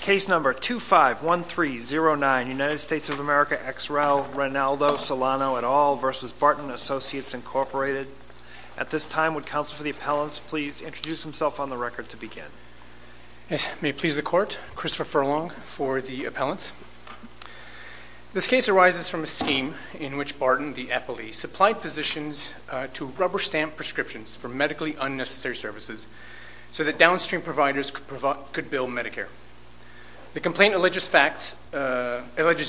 Case number 251309, United States of America, ex rel. Ronaldo Solano et al. v. Barton Associates, Inc. At this time, would counsel for the appellants please introduce themselves on the record to begin? Yes, may it please the court, Christopher Furlong for the appellants. This case arises from a scheme in which Barton, the epilee, supplied physicians to rubber stamp prescriptions for medically unnecessary services so that downstream providers could bill Medicare. The complaint alleges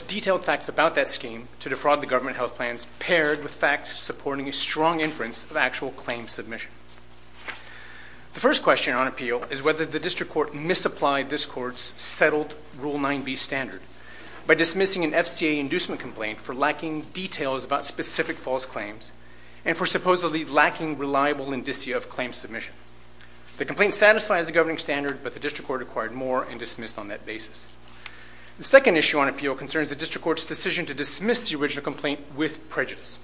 detailed facts about that scheme to defraud the government health plans paired with facts supporting a strong inference of actual claim submission. The first question on appeal is whether the district court misapplied this court's settled Rule 9b standard by dismissing an FCA inducement complaint for lacking details about specific false claims and for supposedly lacking reliable indicia of claim submission. The complaint satisfies the governing standard, but the district court acquired more and dismissed on that basis. The second issue on appeal concerns the district court's decision to dismiss the original complaint with prejudice.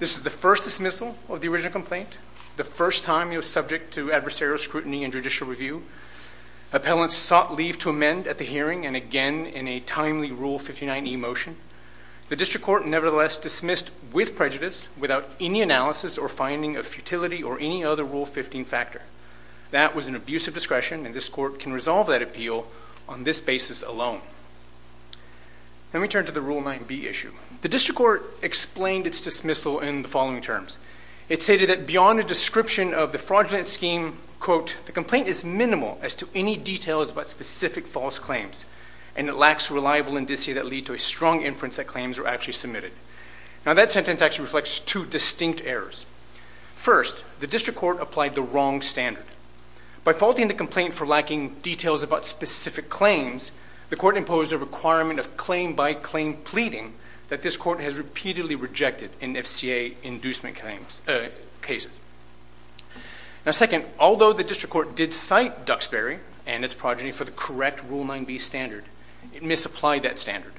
This is the first dismissal of the original complaint, the first time it was subject to adversarial scrutiny and judicial review. Appellants sought leave to amend at the hearing and again in a timely Rule 59e motion. The district court nevertheless dismissed with prejudice without any analysis or finding of futility or any other Rule 15 factor. That was an abuse of discretion and this court can resolve that appeal on this basis alone. Let me turn to the Rule 9b issue. The district court explained its dismissal in the following terms. It stated that beyond a description of the fraudulent scheme, quote, the complaint is minimal as to any details about specific false claims and it lacks reliable indicia that lead to a strong inference that claims were actually submitted. Now that sentence actually reflects two distinct errors. First, the district court applied the wrong standard. By faulting the complaint for lacking details about specific claims, the court imposed a requirement of claim by claim pleading that this court has repeatedly rejected in FCA inducement cases. Now second, although the district court did cite Duxbury and its progeny for the correct Rule 9b standard, it misapplied that standard.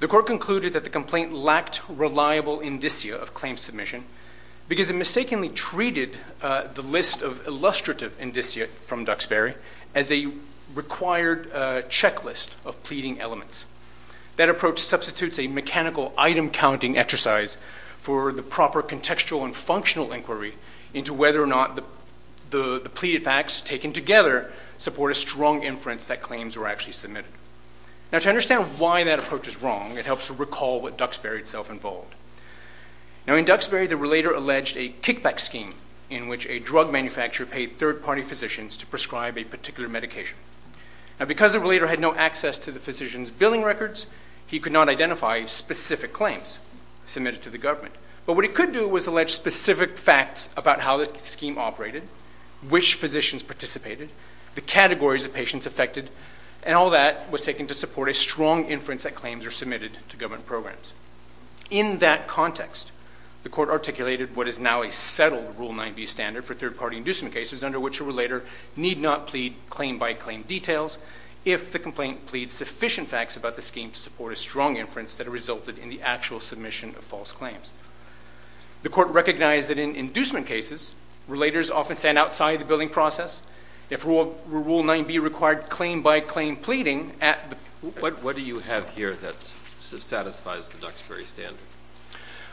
The court concluded that the complaint lacked reliable indicia of claim submission because it mistakenly treated the list of illustrative indicia from Duxbury as a required checklist of pleading elements. That approach substitutes a mechanical item counting exercise for the proper contextual and functional inquiry into whether or not the pleaded facts taken together support a strong inference that claims were actually submitted. Now to understand why that approach is wrong, it helps to recall what Duxbury itself involved. Now in Duxbury, the relator alleged a kickback scheme in which a drug manufacturer paid third-party physicians to prescribe a particular medication. Now because the relator had no access to the physician's billing records, he could not identify specific claims submitted to the government. But what he could do was allege specific facts about how the scheme operated, which physicians participated, the categories of patients affected, and all that was taken to support a strong inference that claims are submitted to government programs. In that context, the court articulated what is now a settled Rule 9b standard for third-party inducement cases under which a relator need not plead claim-by-claim details if the complaint pleads sufficient facts about the scheme to support a strong inference that resulted in the actual submission of false claims. The court recognized that in inducement cases, relators often stand outside the billing process. If Rule 9b required claim-by-claim pleading at the... What do you have here that satisfies the Duxbury standard?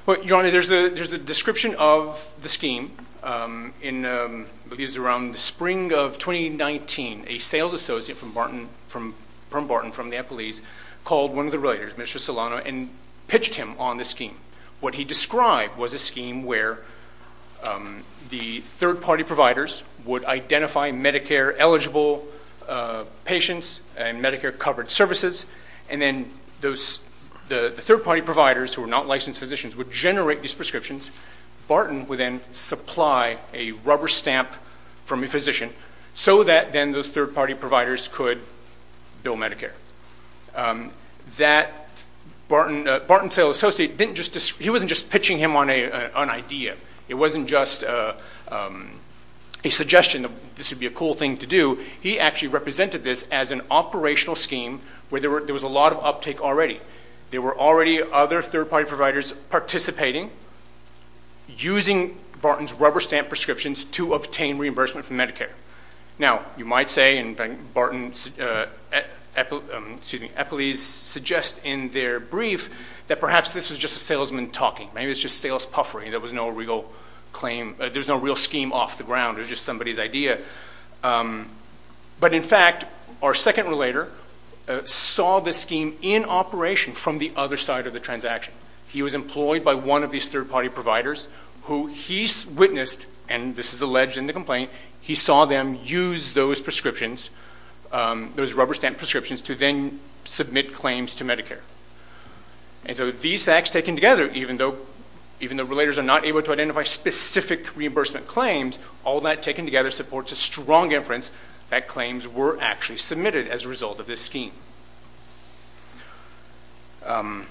Well, your Honor, there's a description of the scheme. It was around the spring of 2019, a sales associate from Barton, from the Epple East, called one of the relators, Mr. Solano, and pitched him on the scheme. What he described was a scheme where the third-party providers would identify Medicare-eligible patients and Medicare-covered services, and then the third-party providers, who were not licensed physicians, would generate these prescriptions. Barton would then supply a rubber stamp from a physician so that then those third-party providers could bill Medicare. Barton, the sales associate, he wasn't just pitching him on an idea. It wasn't just a suggestion that this would be a cool thing to do. He actually represented this as an operational scheme where there was a lot of uptake already. There were already other third-party providers participating, using Barton's rubber-stamped prescriptions to obtain reimbursement from Medicare. Now, you might say, and Barton's Epple East suggests in their brief, that perhaps this was just a salesman talking. Maybe it's just sales puffery. There was no real scheme off the ground. It was just somebody's idea. In fact, our second relator saw this scheme in operation from the other side of the transaction. He was employed by one of these third-party providers who he witnessed, and this is alleged in the complaint, he saw them use those prescriptions, those rubber-stamped prescriptions, to then submit claims to Medicare. And so these facts taken together, even though relators are not able to identify specific reimbursement claims, all that taken together supports a strong inference that claims were actually submitted as a result of this scheme. Can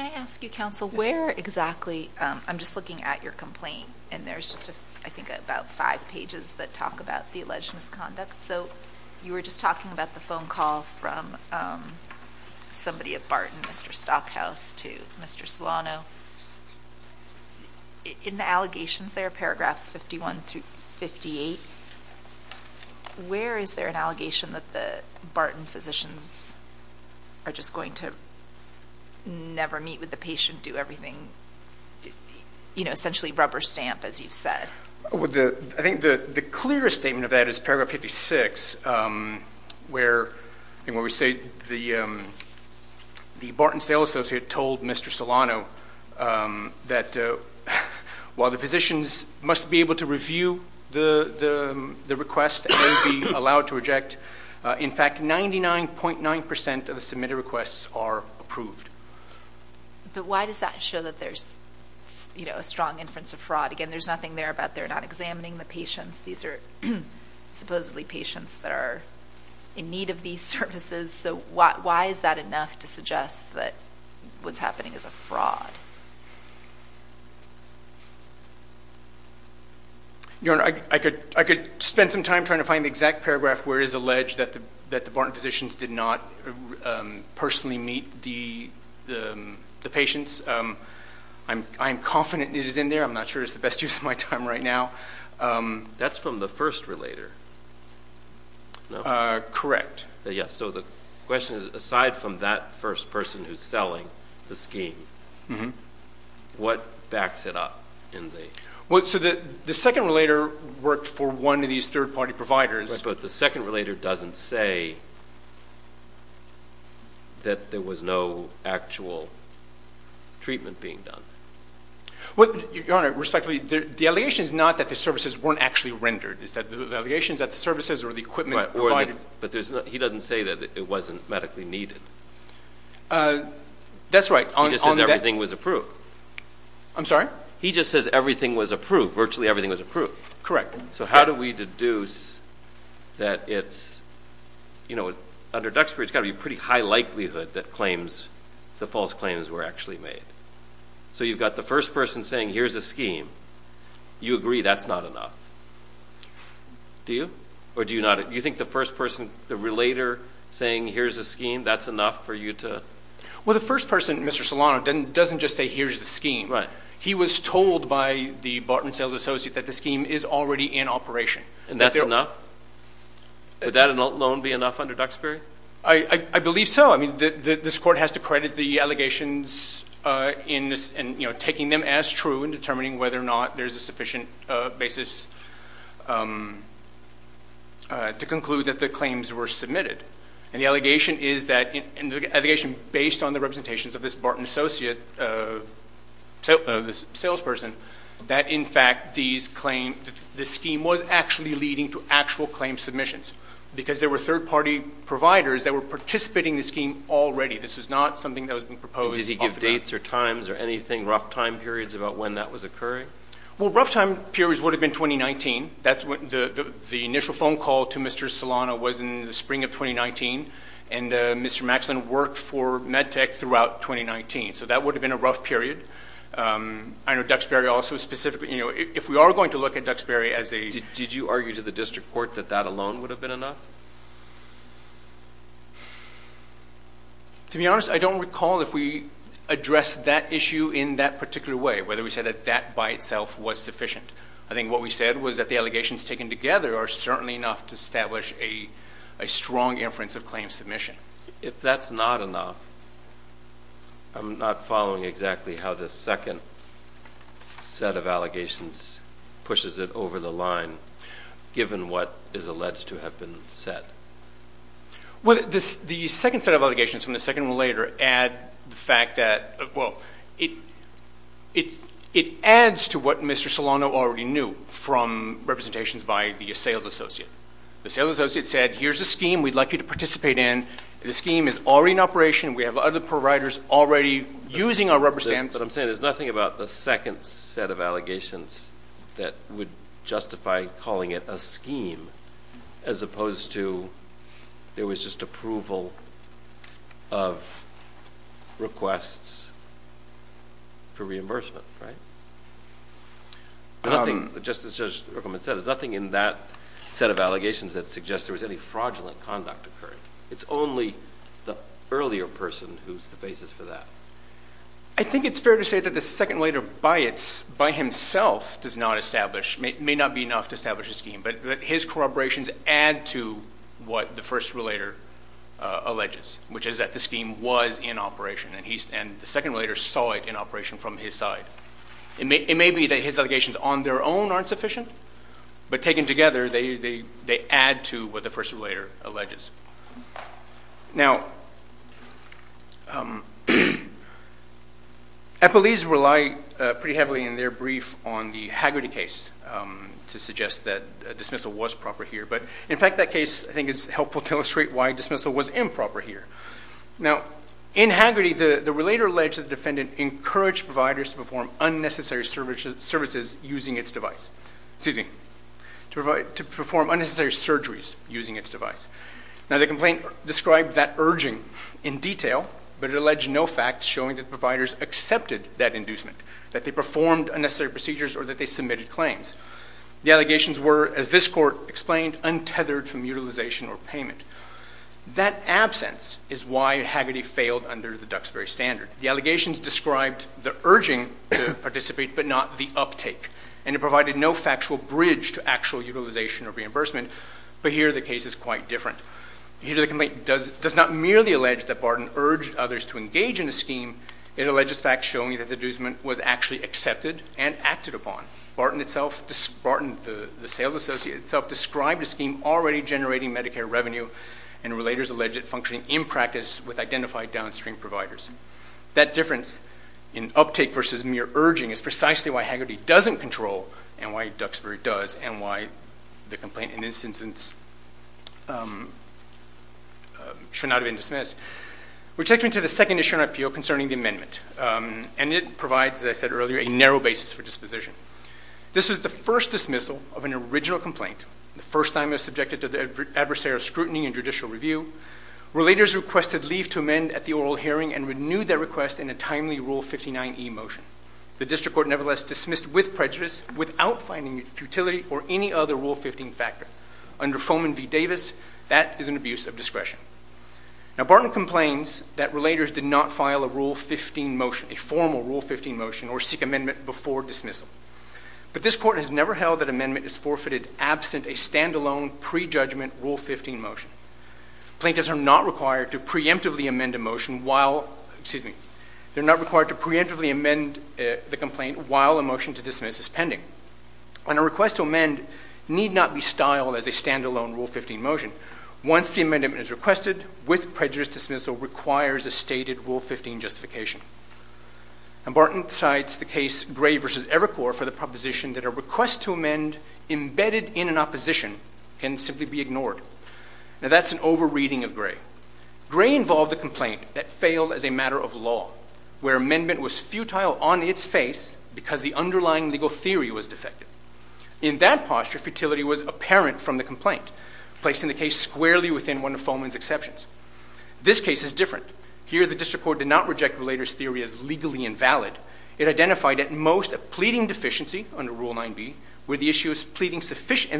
I ask you, counsel, where exactly? I'm just looking at your complaint, and there's just, I think, about five pages that talk about the alleged misconduct. So you were just talking about the phone call from somebody at Barton, Mr. Stockhouse, to Mr. Solano. In the allegations there, paragraphs 51 through 58, where is there an allegation that the Barton physicians are just going to never meet with the patient, do everything, you know, essentially rubber-stamp, as you've said? I think the clearest statement of that is paragraph 56, where we say the Barton sales associate told Mr. Solano that while the physicians must be able to review the request and be allowed to reject, in fact, 99.9 percent of the submitted requests are approved. But why does that show that there's, you know, a strong inference of fraud? Again, there's nothing there about they're not examining the patients. These are supposedly patients that are in need of these services. So why is that enough to suggest that what's happening is a fraud? Your Honor, I could spend some time trying to find the exact paragraph where it is alleged that the Barton physicians did not personally meet the patients. I'm confident it is in there. I'm not sure it's the best use of my time right now. That's from the first relator. Correct. Yes. So the question is, aside from that first person who's selling the scheme, what backs it up in the… Well, so the second relator worked for one of these third-party providers. But the second relator doesn't say that there was no actual treatment being done. Your Honor, respectfully, the allegation is not that the services weren't actually rendered. The allegation is that the services or the equipment provided But he doesn't say that it wasn't medically needed. That's right. He just says everything was approved. I'm sorry? He just says everything was approved, virtually everything was approved. Correct. So how do we deduce that it's, you know, under Duxbury, it's got to be a pretty high likelihood that claims, the false claims were actually made. So you've got the first person saying here's a scheme. You agree that's not enough. Do you? Or do you not? Do you think the first person, the relator saying here's a scheme, that's enough for you to… Well, the first person, Mr. Solano, doesn't just say here's the scheme. He was told by the Barton Sales Associate that the scheme is already in operation. And that's enough? Would that alone be enough under Duxbury? I believe so. I mean, this Court has to credit the allegations in this, you know, taking them as true in determining whether or not there's a sufficient basis to conclude that the claims were submitted. And the allegation is that, and the allegation based on the representations of this Barton Associate, the salesperson, that in fact these claims, the scheme was actually leading to actual claim submissions. Because there were third-party providers that were participating in the scheme already. This was not something that was being proposed off the bat. Did he give dates or times or anything, rough time periods about when that was occurring? Well, rough time periods would have been 2019. That's when the initial phone call to Mr. Maxon was in 2019. And Mr. Maxon worked for MedTech throughout 2019. So that would have been a rough period. I know Duxbury also specifically, you know, if we are going to look at Duxbury as a... Did you argue to the District Court that that alone would have been enough? To be honest, I don't recall if we addressed that issue in that particular way, whether we said that that by itself was sufficient. I think what we said was that the allegations taken together are certainly enough to establish a strong inference of claim submission. If that's not enough, I'm not following exactly how this second set of allegations pushes it over the line, given what is alleged to have been said. The second set of allegations from the second relator add the fact that, well, it adds to what Mr. Solano already knew from representations by the sales associate. The sales associate said, here's a scheme we'd like you to participate in. The scheme is already in operation. We have other providers already using our rubber stamps. What I'm saying is there's nothing about the second set of allegations that would justify calling it a scheme, as opposed to there was just approval of requests for reimbursement, right? Nothing, just as Judge Ruckelman said, there's nothing in that set of allegations that suggests there was any fraudulent conduct occurring. It's only the earlier person who's the basis for that. I think it's fair to say that the second relator by himself does not establish, may not be enough to establish a scheme, but his corroborations add to what the first relator alleges, which is that the scheme was in operation, and the second relator saw it in operation from his side. It may be that his allegations on their own aren't sufficient, but taken together, they add to what the first relator alleges. Now, FLEs rely pretty heavily in their brief on the Hagerty case to suggest that dismissal was proper here, but in fact, that case I think is helpful to illustrate why dismissal was improper here. Now, in Hagerty, the relator alleged that the defendant encouraged providers to perform unnecessary services using its device, excuse me, to perform unnecessary surgeries using its device. Now, the complaint described that urging in detail, but it alleged no facts showing that the providers accepted that inducement, that they performed unnecessary procedures or that they submitted claims. The allegations were, as this Court explained, untethered from utilization or payment. That absence is why Hagerty failed under the Duxbury standard. The allegations described the urging to participate, but not the uptake, and it provided no factual bridge to actual utilization or reimbursement, but here the case is quite different. Here the complaint does not merely allege that Barton urged others to engage in a scheme. It alleges facts showing that the inducement was actually accepted and acted upon. Barton itself, the sales associate itself, described a scheme already generating Medicare revenue, and relators allege it functioning in practice with identified downstream providers. That difference in uptake versus mere urging is precisely why Hagerty doesn't control and why Duxbury does and why the complaint in this instance should not have been dismissed. We're taking to the second issue in our appeal concerning the amendment, and it provides, as I said earlier, a narrow basis for disposition. This is the first dismissal of an original complaint, the first time it was subjected to the adversary's scrutiny and judicial review. Relators requested leave to amend at the oral hearing and renewed their request in a timely Rule 59e motion. The district court nevertheless dismissed with prejudice without finding futility or any other Rule 15 factor. Under Foman v. Davis, that is an abuse of discretion. Now Barton complains that relators did not file a Rule 15 motion, a formal Rule 15 motion, or seek amendment before dismissal, but this court has never held that amendment is forfeited absent a standalone pre-judgment Rule 15 motion. Plaintiffs are not required to preemptively amend a motion while, excuse me, they're not required to preemptively amend the complaint while a motion to dismiss is pending. And a request to amend need not be styled as a standalone Rule 15 motion. Once the amendment is requested, with prejudice dismissal requires a stated Rule 15 justification. And Barton cites the case Gray v. Evercore for the proposition that a request to amend embedded in an opposition can simply be ignored. Now that's an over-reading of Gray. Gray involved a complaint that failed as a matter of law, where amendment was futile on its face because the underlying legal theory was defective. In that posture, futility was apparent from the complaint, placing the case squarely within one of Foman's exceptions. This case is different. Here the district court did not reject relators' theory as legally invalid. It identified at most a pleading deficiency under Rule 9b, and where the issue is pleading sufficiency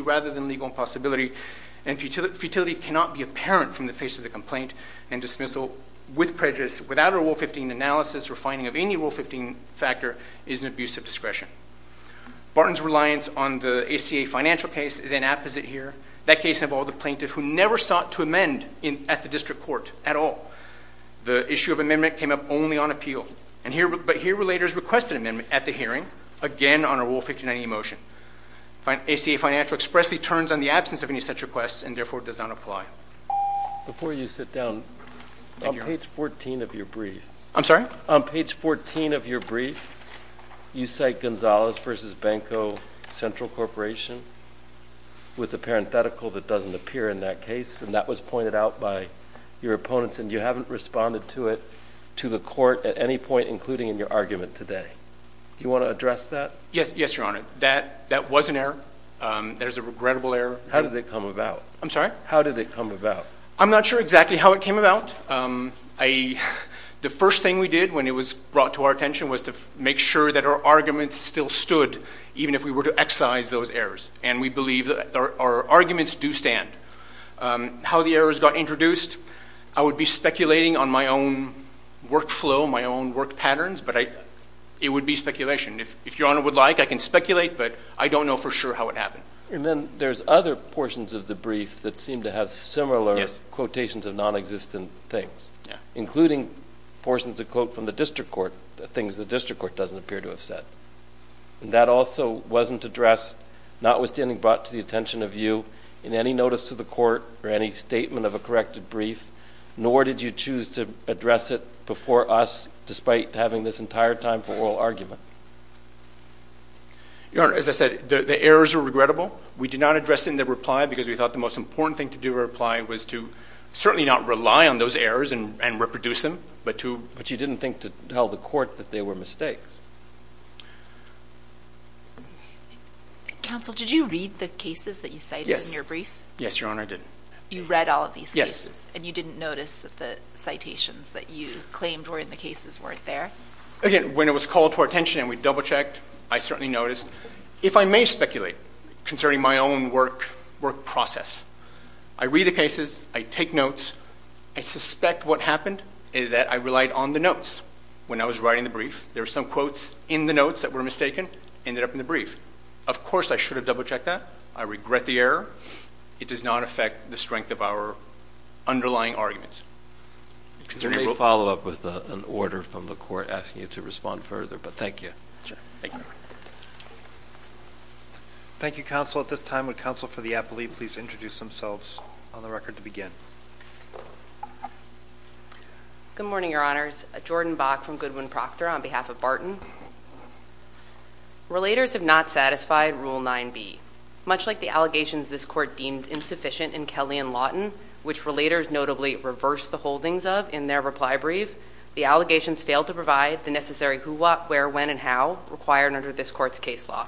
rather than legal impossibility. And futility cannot be apparent from the face of the complaint, and dismissal with prejudice without a Rule 15 analysis or finding of any Rule 15 factor is an abuse of discretion. Barton's reliance on the ACA financial case is an apposite here. That case involved a plaintiff who never sought to amend at the district court at all. The issue of amendment came up only on appeal. But here relators request an amendment at the hearing, again on a Rule 1590 motion. ACA financial expressly turns on the absence of any such requests and therefore does not apply. Before you sit down, on page 14 of your brief, you cite Gonzalez v. Banco Central Corporation with a parenthetical that doesn't appear in that case, and that was pointed out by your opponents, and you haven't responded to it to the court at any point, including in your argument today. Do you want to address that? Yes, Your Honor. That was an error. That is a regrettable error. How did it come about? I'm sorry? How did it come about? I'm not sure exactly how it came about. The first thing we did when it was brought to our attention was to make sure that our arguments still stood, even if we were to excise those errors, and we believe that our arguments do stand. How the errors got introduced, I would be speculating on my own workflow, my own work patterns, but it would be speculation. If Your Honor would like, I can speculate, but I don't know for sure how it happened. And then there's other portions of the brief that seem to have similar quotations of non-existent things, including portions of quote from the district court, things the district court doesn't appear to have said. And that also wasn't addressed, notwithstanding brought to the attention of you, in any notice to the court or any statement of a corrected brief, nor did you choose to address it before us, despite having this entire time for oral argument. Your Honor, as I said, the errors are regrettable. We did not address them in the reply because we thought the most important thing to do in reply was to certainly not rely on those errors and reproduce them, but to didn't think to tell the court that they were mistakes. Counsel, did you read the cases that you cited in your brief? Yes, Your Honor, I did. You read all of these cases? And you didn't notice that the citations that you claimed were in the cases weren't there? Again, when it was called to our attention and we double-checked, I certainly noticed. If I may speculate, concerning my own work process, I read the cases, I take notes, I suspect what happened is that I relied on the notes when I was writing the brief. There were some quotes in the notes that were mistaken, ended up in the brief. Of course, I should have double-checked that. I regret the error. It does not affect the strength of our underlying arguments. We may follow up with an order from the court asking you to respond further, but thank you. Thank you, counsel. At this time, would counsel for the appellee please introduce themselves on the record to begin? Good morning, Your Honors. Jordan Bach from Goodwin-Proctor on behalf of Barton. Relators have not satisfied Rule 9b. Much like the allegations this court deemed insufficient in Kelly and Lawton, which relators notably reversed the holdings of in their reply brief, the allegations failed to provide the necessary who, what, where, when, and how required under this court's case law.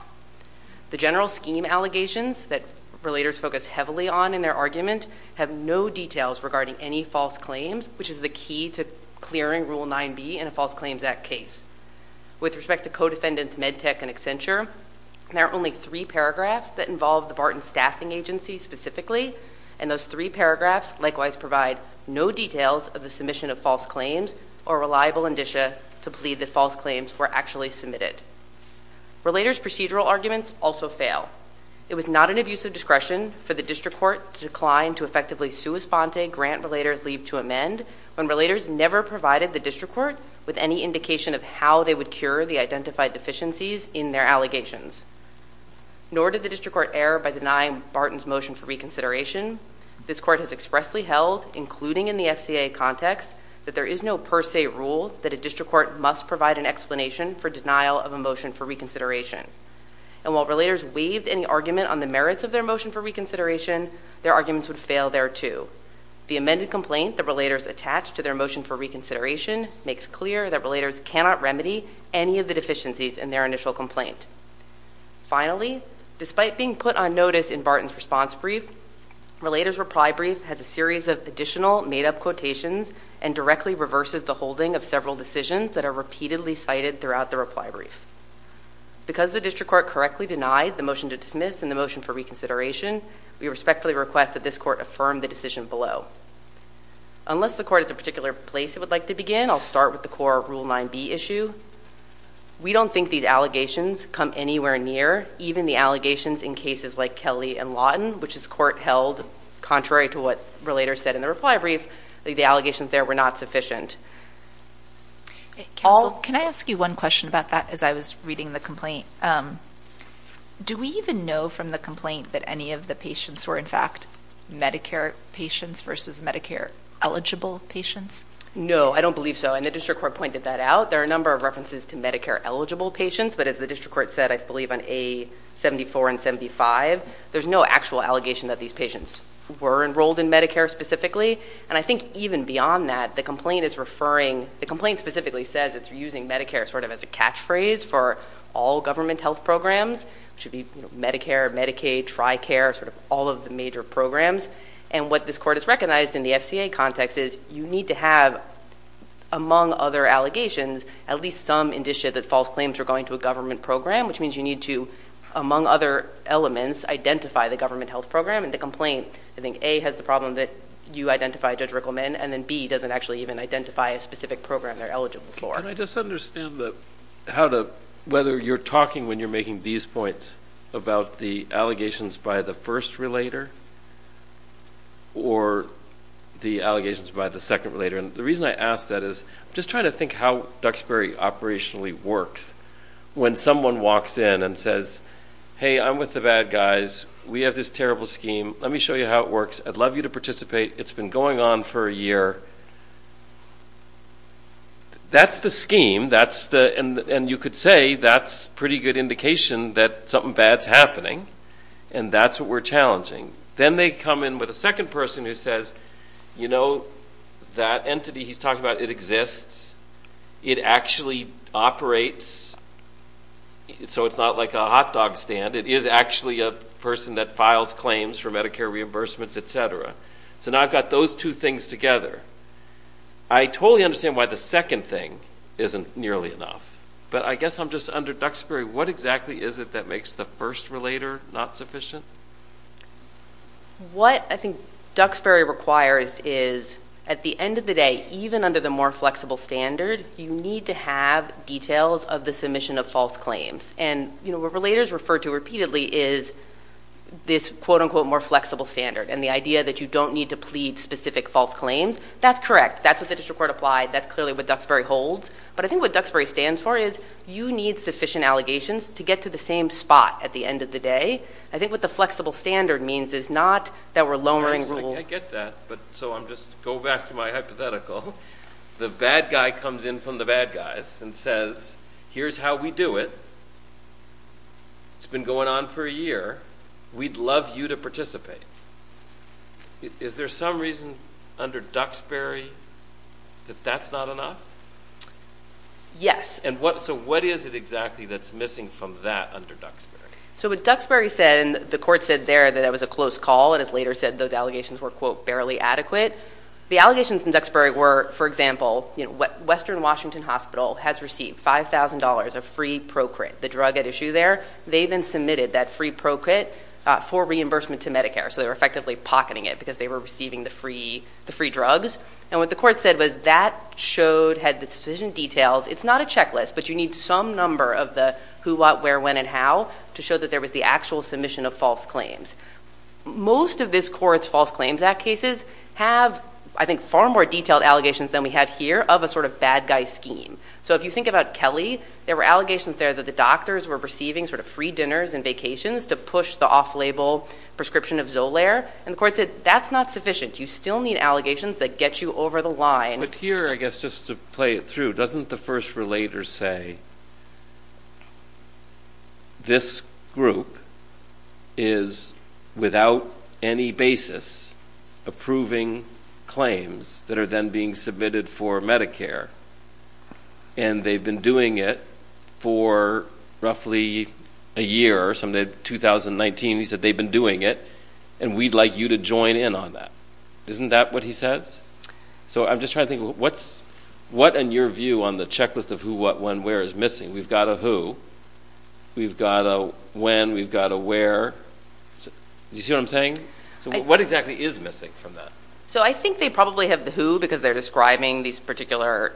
The general scheme allegations that relators focus heavily on in their argument have no details regarding any false claims, which is the key to clearing Rule 9b in a False Claims Act case. With respect to co-defendants Medtech and Accenture, there are only three paragraphs that involve the Barton Staffing Agency specifically, and those three paragraphs likewise provide no details of the submission of false claims or reliable indicia to plead that false claims were actually submitted. Relators' procedural arguments also fail. It was not an abuse of discretion for the district court to decline to effectively sua sponte grant relators leave to amend when relators never provided the district court with any indication of how they would cure the identified deficiencies in their allegations. Nor did the district court err by denying Barton's motion for reconsideration. This court has expressly held, including in the FCA context, that there is no per se rule that a district court must provide an explanation for denial of a motion for reconsideration. And while relators waived any argument on the merits of their motion for reconsideration, their arguments would fail thereto. The amended complaint that relators attached to their motion for reconsideration makes clear that relators cannot remedy any of the deficiencies in their initial complaint. Finally, despite being put on notice in Barton's response brief, relators' reply brief has a series of additional made-up quotations and directly reverses the holding of several decisions that are repeatedly cited throughout the reply brief. Because the district court correctly denied the motion to dismiss and the motion for reconsideration, we respectfully request that this court affirm the decision below. Unless the court has a particular place it would like to begin, I'll start with the core Rule 9b issue. We don't think these allegations come anywhere near even the allegations in cases like Kelly and Lawton, which this court held, contrary to what relators said in the reply brief, that the allegations there were not sufficient. Can I ask you one question about that as I was reading the complaint? Do we even know from the complaint that any of the patients were, in fact, Medicare patients versus Medicare-eligible patients? No, I don't believe so. And the district court pointed that out. There are a number of references to Medicare-eligible patients, but as the district court said, I believe, on A-74 and 75, there's no actual allegation that these patients were enrolled in Medicare specifically. I think even beyond that, the complaint specifically says it's using Medicare as a catchphrase for all government health programs, which would be Medicare, Medicaid, TRICARE, all of the major programs. And what this court has recognized in the FCA context is you need to have, among other allegations, at least some indicia that false claims are going to a government program, which means you need to, among other elements, identify the government health program. And the complaint, I think, A, has the problem that you identify Judge Rickleman, and then B, doesn't actually even identify a specific program they're eligible for. Can I just understand whether you're talking when you're making these points about the allegations by the first relator or the allegations by the second relator? And the reason I ask that is I'm just trying to think how Duxbury operationally works. When someone walks in and says, hey, I'm with the bad guys. We have this terrible scheme. Let me show you how it works. I'd love you to participate. It's been going on for a year. That's the scheme. And you could say that's a pretty good indication that something bad's happening. And that's what we're challenging. Then they come in with a second person who says, you know, that entity he's talking about, it exists. It actually operates. So it's not like a hot dog stand. It is actually a person that files claims for Medicare reimbursements, et cetera. So now I've got those two things together. I totally understand why the second thing isn't nearly enough. But I guess I'm just under Duxbury. What exactly is it that makes the first relator not sufficient? What I think Duxbury requires is at the end of the day, even under the more flexible standard, you need to have details of the submission of false claims. And what relators refer to repeatedly is this, quote unquote, more flexible standard. And the idea that you don't need to plead specific false claims, that's correct. That's what the district court applied. That's clearly what Duxbury holds. But I think what Duxbury stands for is you need sufficient allegations to get to the same spot at the end of the day. I think what the flexible standard means is not that we're lowering rules. I get that. But so I'm just going to go back to my hypothetical. The bad guy comes in from the bad guys and says, here's how we do it. It's been going on for a year. We'd love you to participate. Is there some reason under Duxbury that that's not enough? Yes. So what is it exactly that's missing from that under Duxbury? So what Duxbury said, and the court said there that that was a close call, and has later said those allegations were, quote, barely adequate. The allegations in Duxbury were, for example, Western Washington Hospital has received $5,000 of free Procrit, the drug at issue there. They then submitted that free Procrit for reimbursement to Medicare. So they were effectively pocketing it because they were receiving the free drugs. And what the court said was that showed, had the sufficient details. It's not a checklist, but you need some number of the who, what, where, when, and how to show that there was the actual submission of false claims. Most of this court's False Claims Act cases have, I think, far more detailed allegations than we have here of a sort of bad guy scheme. So if you think about Kelly, there were allegations there that the doctors were receiving sort of free dinners and vacations to push the off-label prescription of Zolaire. And the court said, that's not sufficient. You still need allegations that get you over the line. But here, I guess, just to play it through, doesn't the first relator say, this group is without any basis approving claims that are then being submitted for Medicare. And they've been doing it for roughly a year, something like 2019. He said, they've been doing it, and we'd like you to join in on that. Isn't that what he says? So I'm just trying to think, what's, what in your view on the checklist of who, what, when, where is missing? We've got a who, we've got a when, we've got a where. Do you see what I'm saying? So what exactly is missing from that? So I think they probably have the who, because they're describing these particular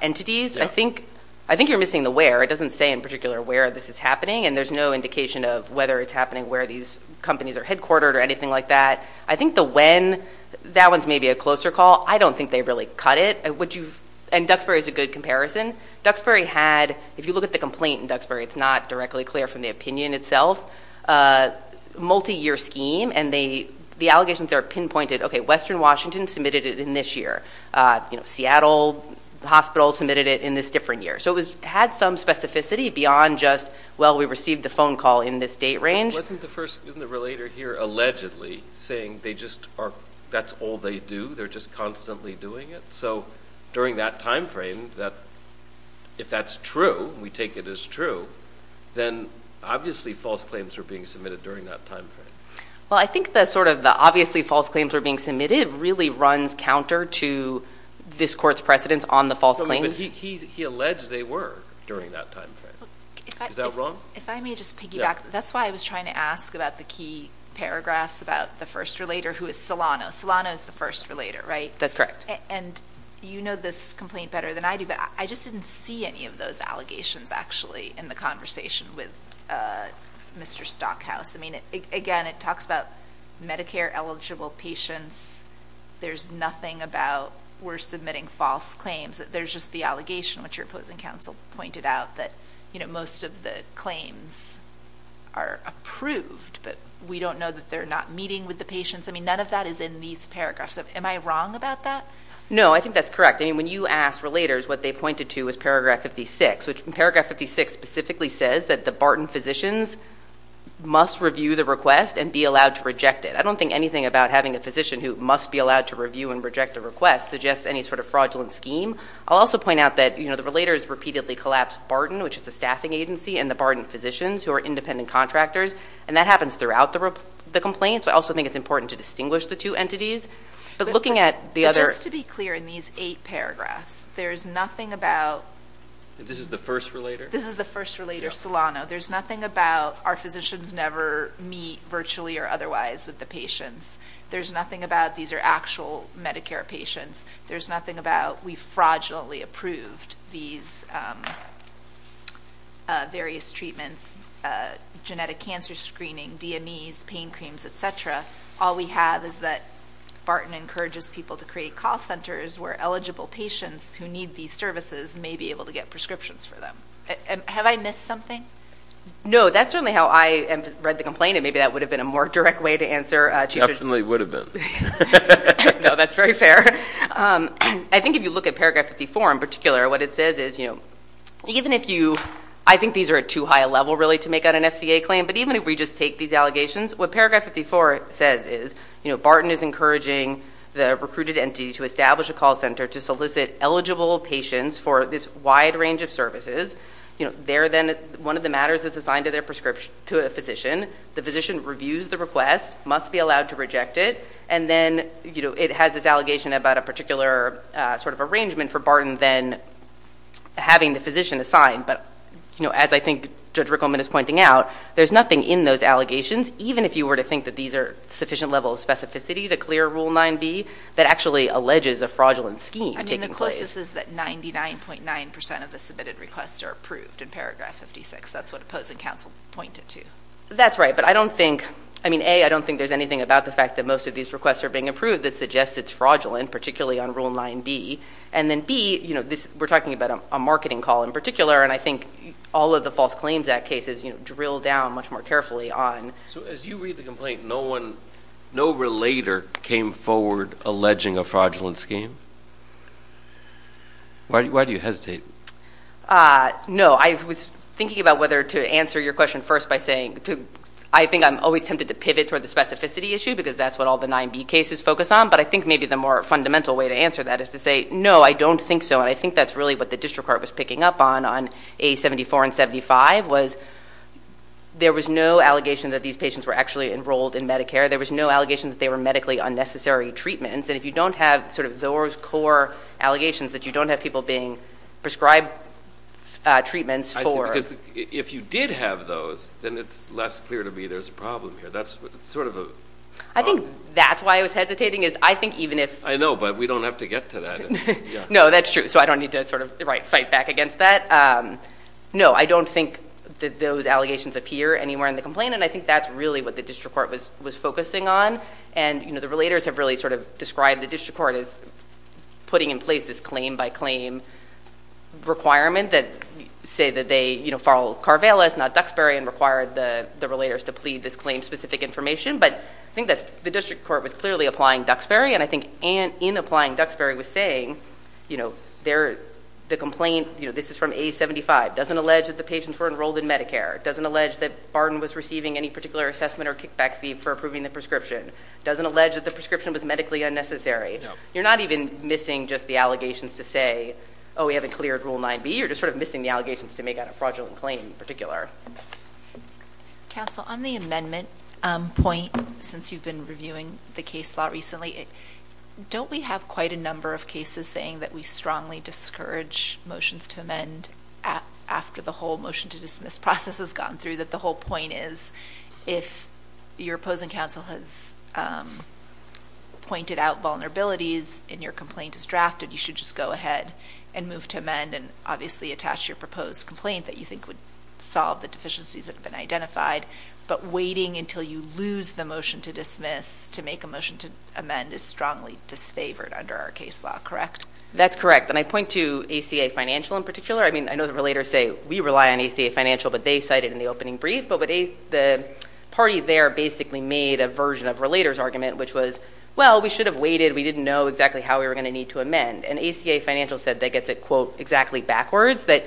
entities. I think, I think you're missing the where. It doesn't say in particular where this is happening, and there's no indication of whether it's happening where these companies are headquartered or anything like that. I think the when, that one's maybe a closer call. I don't think they really cut it. And would you, and Duxbury's a good comparison. Duxbury had, if you look at the complaint in Duxbury, it's not directly clear from the opinion itself. A multi-year scheme, and they, the allegations are pinpointed. Okay, Western Washington submitted it in this year. You know, Seattle Hospital submitted it in this different year. So it was, had some specificity beyond just, well, we received the phone call in this date range. Wasn't the first, isn't the relator here allegedly saying they just are, that's all they do? They're just constantly doing it? So during that time frame, that, if that's true, we take it as true, then obviously false claims are being submitted during that time frame. Well, I think the sort of the obviously false claims are being submitted really runs counter to this court's precedence on the false claims. But he, he, he alleged they were during that time frame. Is that wrong? If I may just piggyback, that's why I was trying to ask about the key paragraphs about the first relator who is Solano. Solano is the first relator, right? That's correct. And you know this complaint better than I do, but I just didn't see any of those allegations actually in the conversation with Mr. Stockhouse. I mean, again, it talks about Medicare-eligible patients. There's nothing about we're submitting false claims. There's just the allegation, which your opposing counsel pointed out, that, you know, most of the claims are approved, but we don't know that they're not meeting with the patients. I mean, none of that is in these paragraphs. Am I wrong about that? No, I think that's correct. I mean, when you asked relators, what they pointed to was paragraph 56, which paragraph 56 specifically says that the Barton physicians must review the request and be allowed to reject it. I don't think anything about having a physician who must be allowed to review and reject a request suggests any sort of fraudulent scheme. I'll also point out that, you know, the relators repeatedly collapse Barton, which is a staffing agency, and the Barton physicians, who are independent contractors, and that happens throughout the complaints. I also think it's important to distinguish the two entities. But looking at the other – But just to be clear, in these eight paragraphs, there's nothing about – This is the first relator? This is the first relator, Solano. There's nothing about our physicians never meet virtually or otherwise with the patients. There's nothing about these are actual Medicare patients. There's nothing about we fraudulently approved these various treatments, genetic cancer screening, DMEs, pain creams, et cetera. All we have is that Barton encourages people to create call centers where eligible patients who need these services may be able to get prescriptions for them. Have I missed something? No, that's certainly how I read the complaint, and maybe that would have been a more direct way to answer. Definitely would have been. No, that's very fair. I think if you look at paragraph 54, in particular, what it says is, you know, even if you – I think these are at too high a level, really, to make out an FCA claim, but even if we just take these allegations, what paragraph 54 says is, you know, Barton is encouraging the recruited entity to establish a call center to solicit eligible patients for this wide range of services. You know, they're then – one of the matters is assigned to their prescription – to a physician. The physician reviews the request, must be allowed to reject it, and then, you know, it has this allegation about a particular sort of arrangement for Barton then having the physician assigned. But, you know, as I think Judge Rickleman is pointing out, there's nothing in those allegations, even if you were to think that these are sufficient level of specificity to clear Rule 9b, that actually alleges a fraudulent scheme taking place. But what it says is that 99.9 percent of the submitted requests are approved in paragraph 56. That's what opposing counsel pointed to. That's right. But I don't think – I mean, A, I don't think there's anything about the fact that most of these requests are being approved that suggests it's fraudulent, particularly on Rule 9b. And then, B, you know, this – we're talking about a marketing call in particular, and I think all of the False Claims Act cases, you know, drill down much more carefully on – So as you read the complaint, no one – no relator came forward alleging a fraudulent scheme. Why do you hesitate? No. I was thinking about whether to answer your question first by saying – I think I'm always tempted to pivot toward the specificity issue, because that's what all the 9b cases focus on. But I think maybe the more fundamental way to answer that is to say, no, I don't think so. And I think that's really what the district court was picking up on, on A74 and 75, was there was no allegation that these patients were actually enrolled in Medicare. There was no allegation that they were medically unnecessary treatments. And if you don't have sort of those core allegations, that you don't have people being prescribed treatments for – I see. Because if you did have those, then it's less clear to me there's a problem here. That's sort of a – I think that's why I was hesitating, is I think even if – I know, but we don't have to get to that. No, that's true. So I don't need to sort of fight back against that. No, I don't think that those allegations appear anywhere in the complaint, and I think that's really what the district court was focusing on. And, you know, the relators have really sort of described the district court as putting in place this claim-by-claim requirement that say that they, you know, follow Carvelis, not Duxbury, and required the relators to plead this claim-specific information. But I think that the district court was clearly applying Duxbury, and I think in applying Duxbury was saying, you know, the complaint, you know, this is from A75, doesn't allege that the patients were enrolled in Medicare, doesn't allege that Barton was receiving any particular assessment or kickback fee for approving the prescription, doesn't allege that the prescription was medically unnecessary. You're not even missing just the allegations to say, oh, we haven't cleared Rule 9b, you're just sort of missing the allegations to make on a fraudulent claim in particular. Counsel, on the amendment point, since you've been reviewing the case law recently, don't we have quite a number of cases saying that we strongly discourage motions to amend after the whole motion to dismiss process has gone through, that the whole point is, if your proposing counsel has pointed out vulnerabilities and your complaint is drafted, you should just go ahead and move to amend and obviously attach your proposed complaint that you think would solve the deficiencies that have been identified. But waiting until you lose the motion to dismiss to make a motion to amend is strongly disfavored under our case law, correct? That's correct. And I point to ACA Financial in particular. I mean, I know the relators say, we rely on ACA Financial, but they cited in the opening brief, but the party there basically made a version of relator's argument, which was, well, we should have waited. We didn't know exactly how we were going to need to amend. And ACA Financial said, that gets it quote, exactly backwards, that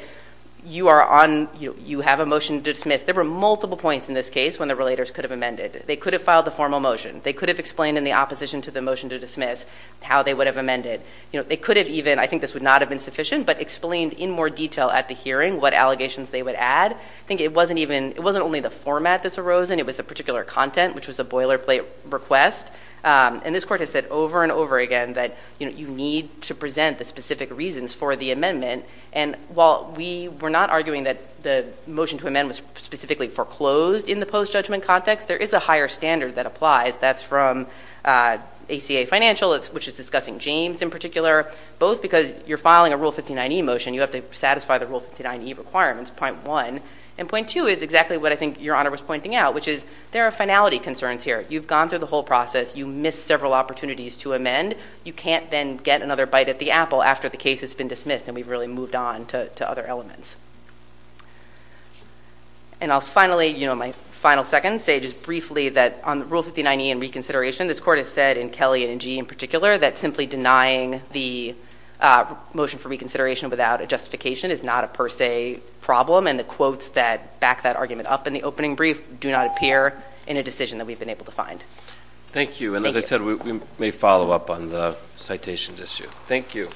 you are on, you have a motion to dismiss. There were multiple points in this case when the relators could have amended. They could have filed a formal motion. They could have explained in the opposition to the motion to dismiss how they would have amended. They could have even, I think this would not have been sufficient, but explained in more detail at the hearing what allegations they would add. I think it wasn't even, it wasn't only the format that's arosen, it was the particular content, which was a boilerplate request. And this court has said over and over again that, you know, you need to present the specific reasons for the amendment. And while we were not arguing that the motion to amend was specifically foreclosed in the post-judgment context, there is a higher standard that applies. That's from ACA Financial, which is discussing James in particular, both because you're filing a Rule 59e motion, you have to satisfy the Rule 59e requirements, point one. And point two is exactly what I think Your Honor was pointing out, which is there are finality concerns here. You've gone through the whole process. You missed several opportunities to amend. You can't then get another bite at the apple after the case has been dismissed and we've really moved on to other elements. And I'll finally, you know, my final second, say just briefly that on Rule 59e and reconsideration, this court has said in Kelly and in Gee in particular, that simply denying the motion for reconsideration without a justification is not a per se problem. And the quotes that back that argument up in the opening brief do not appear in a decision that we've been able to find. Thank you. And as I said, we may follow up on the citations issue. Thank you.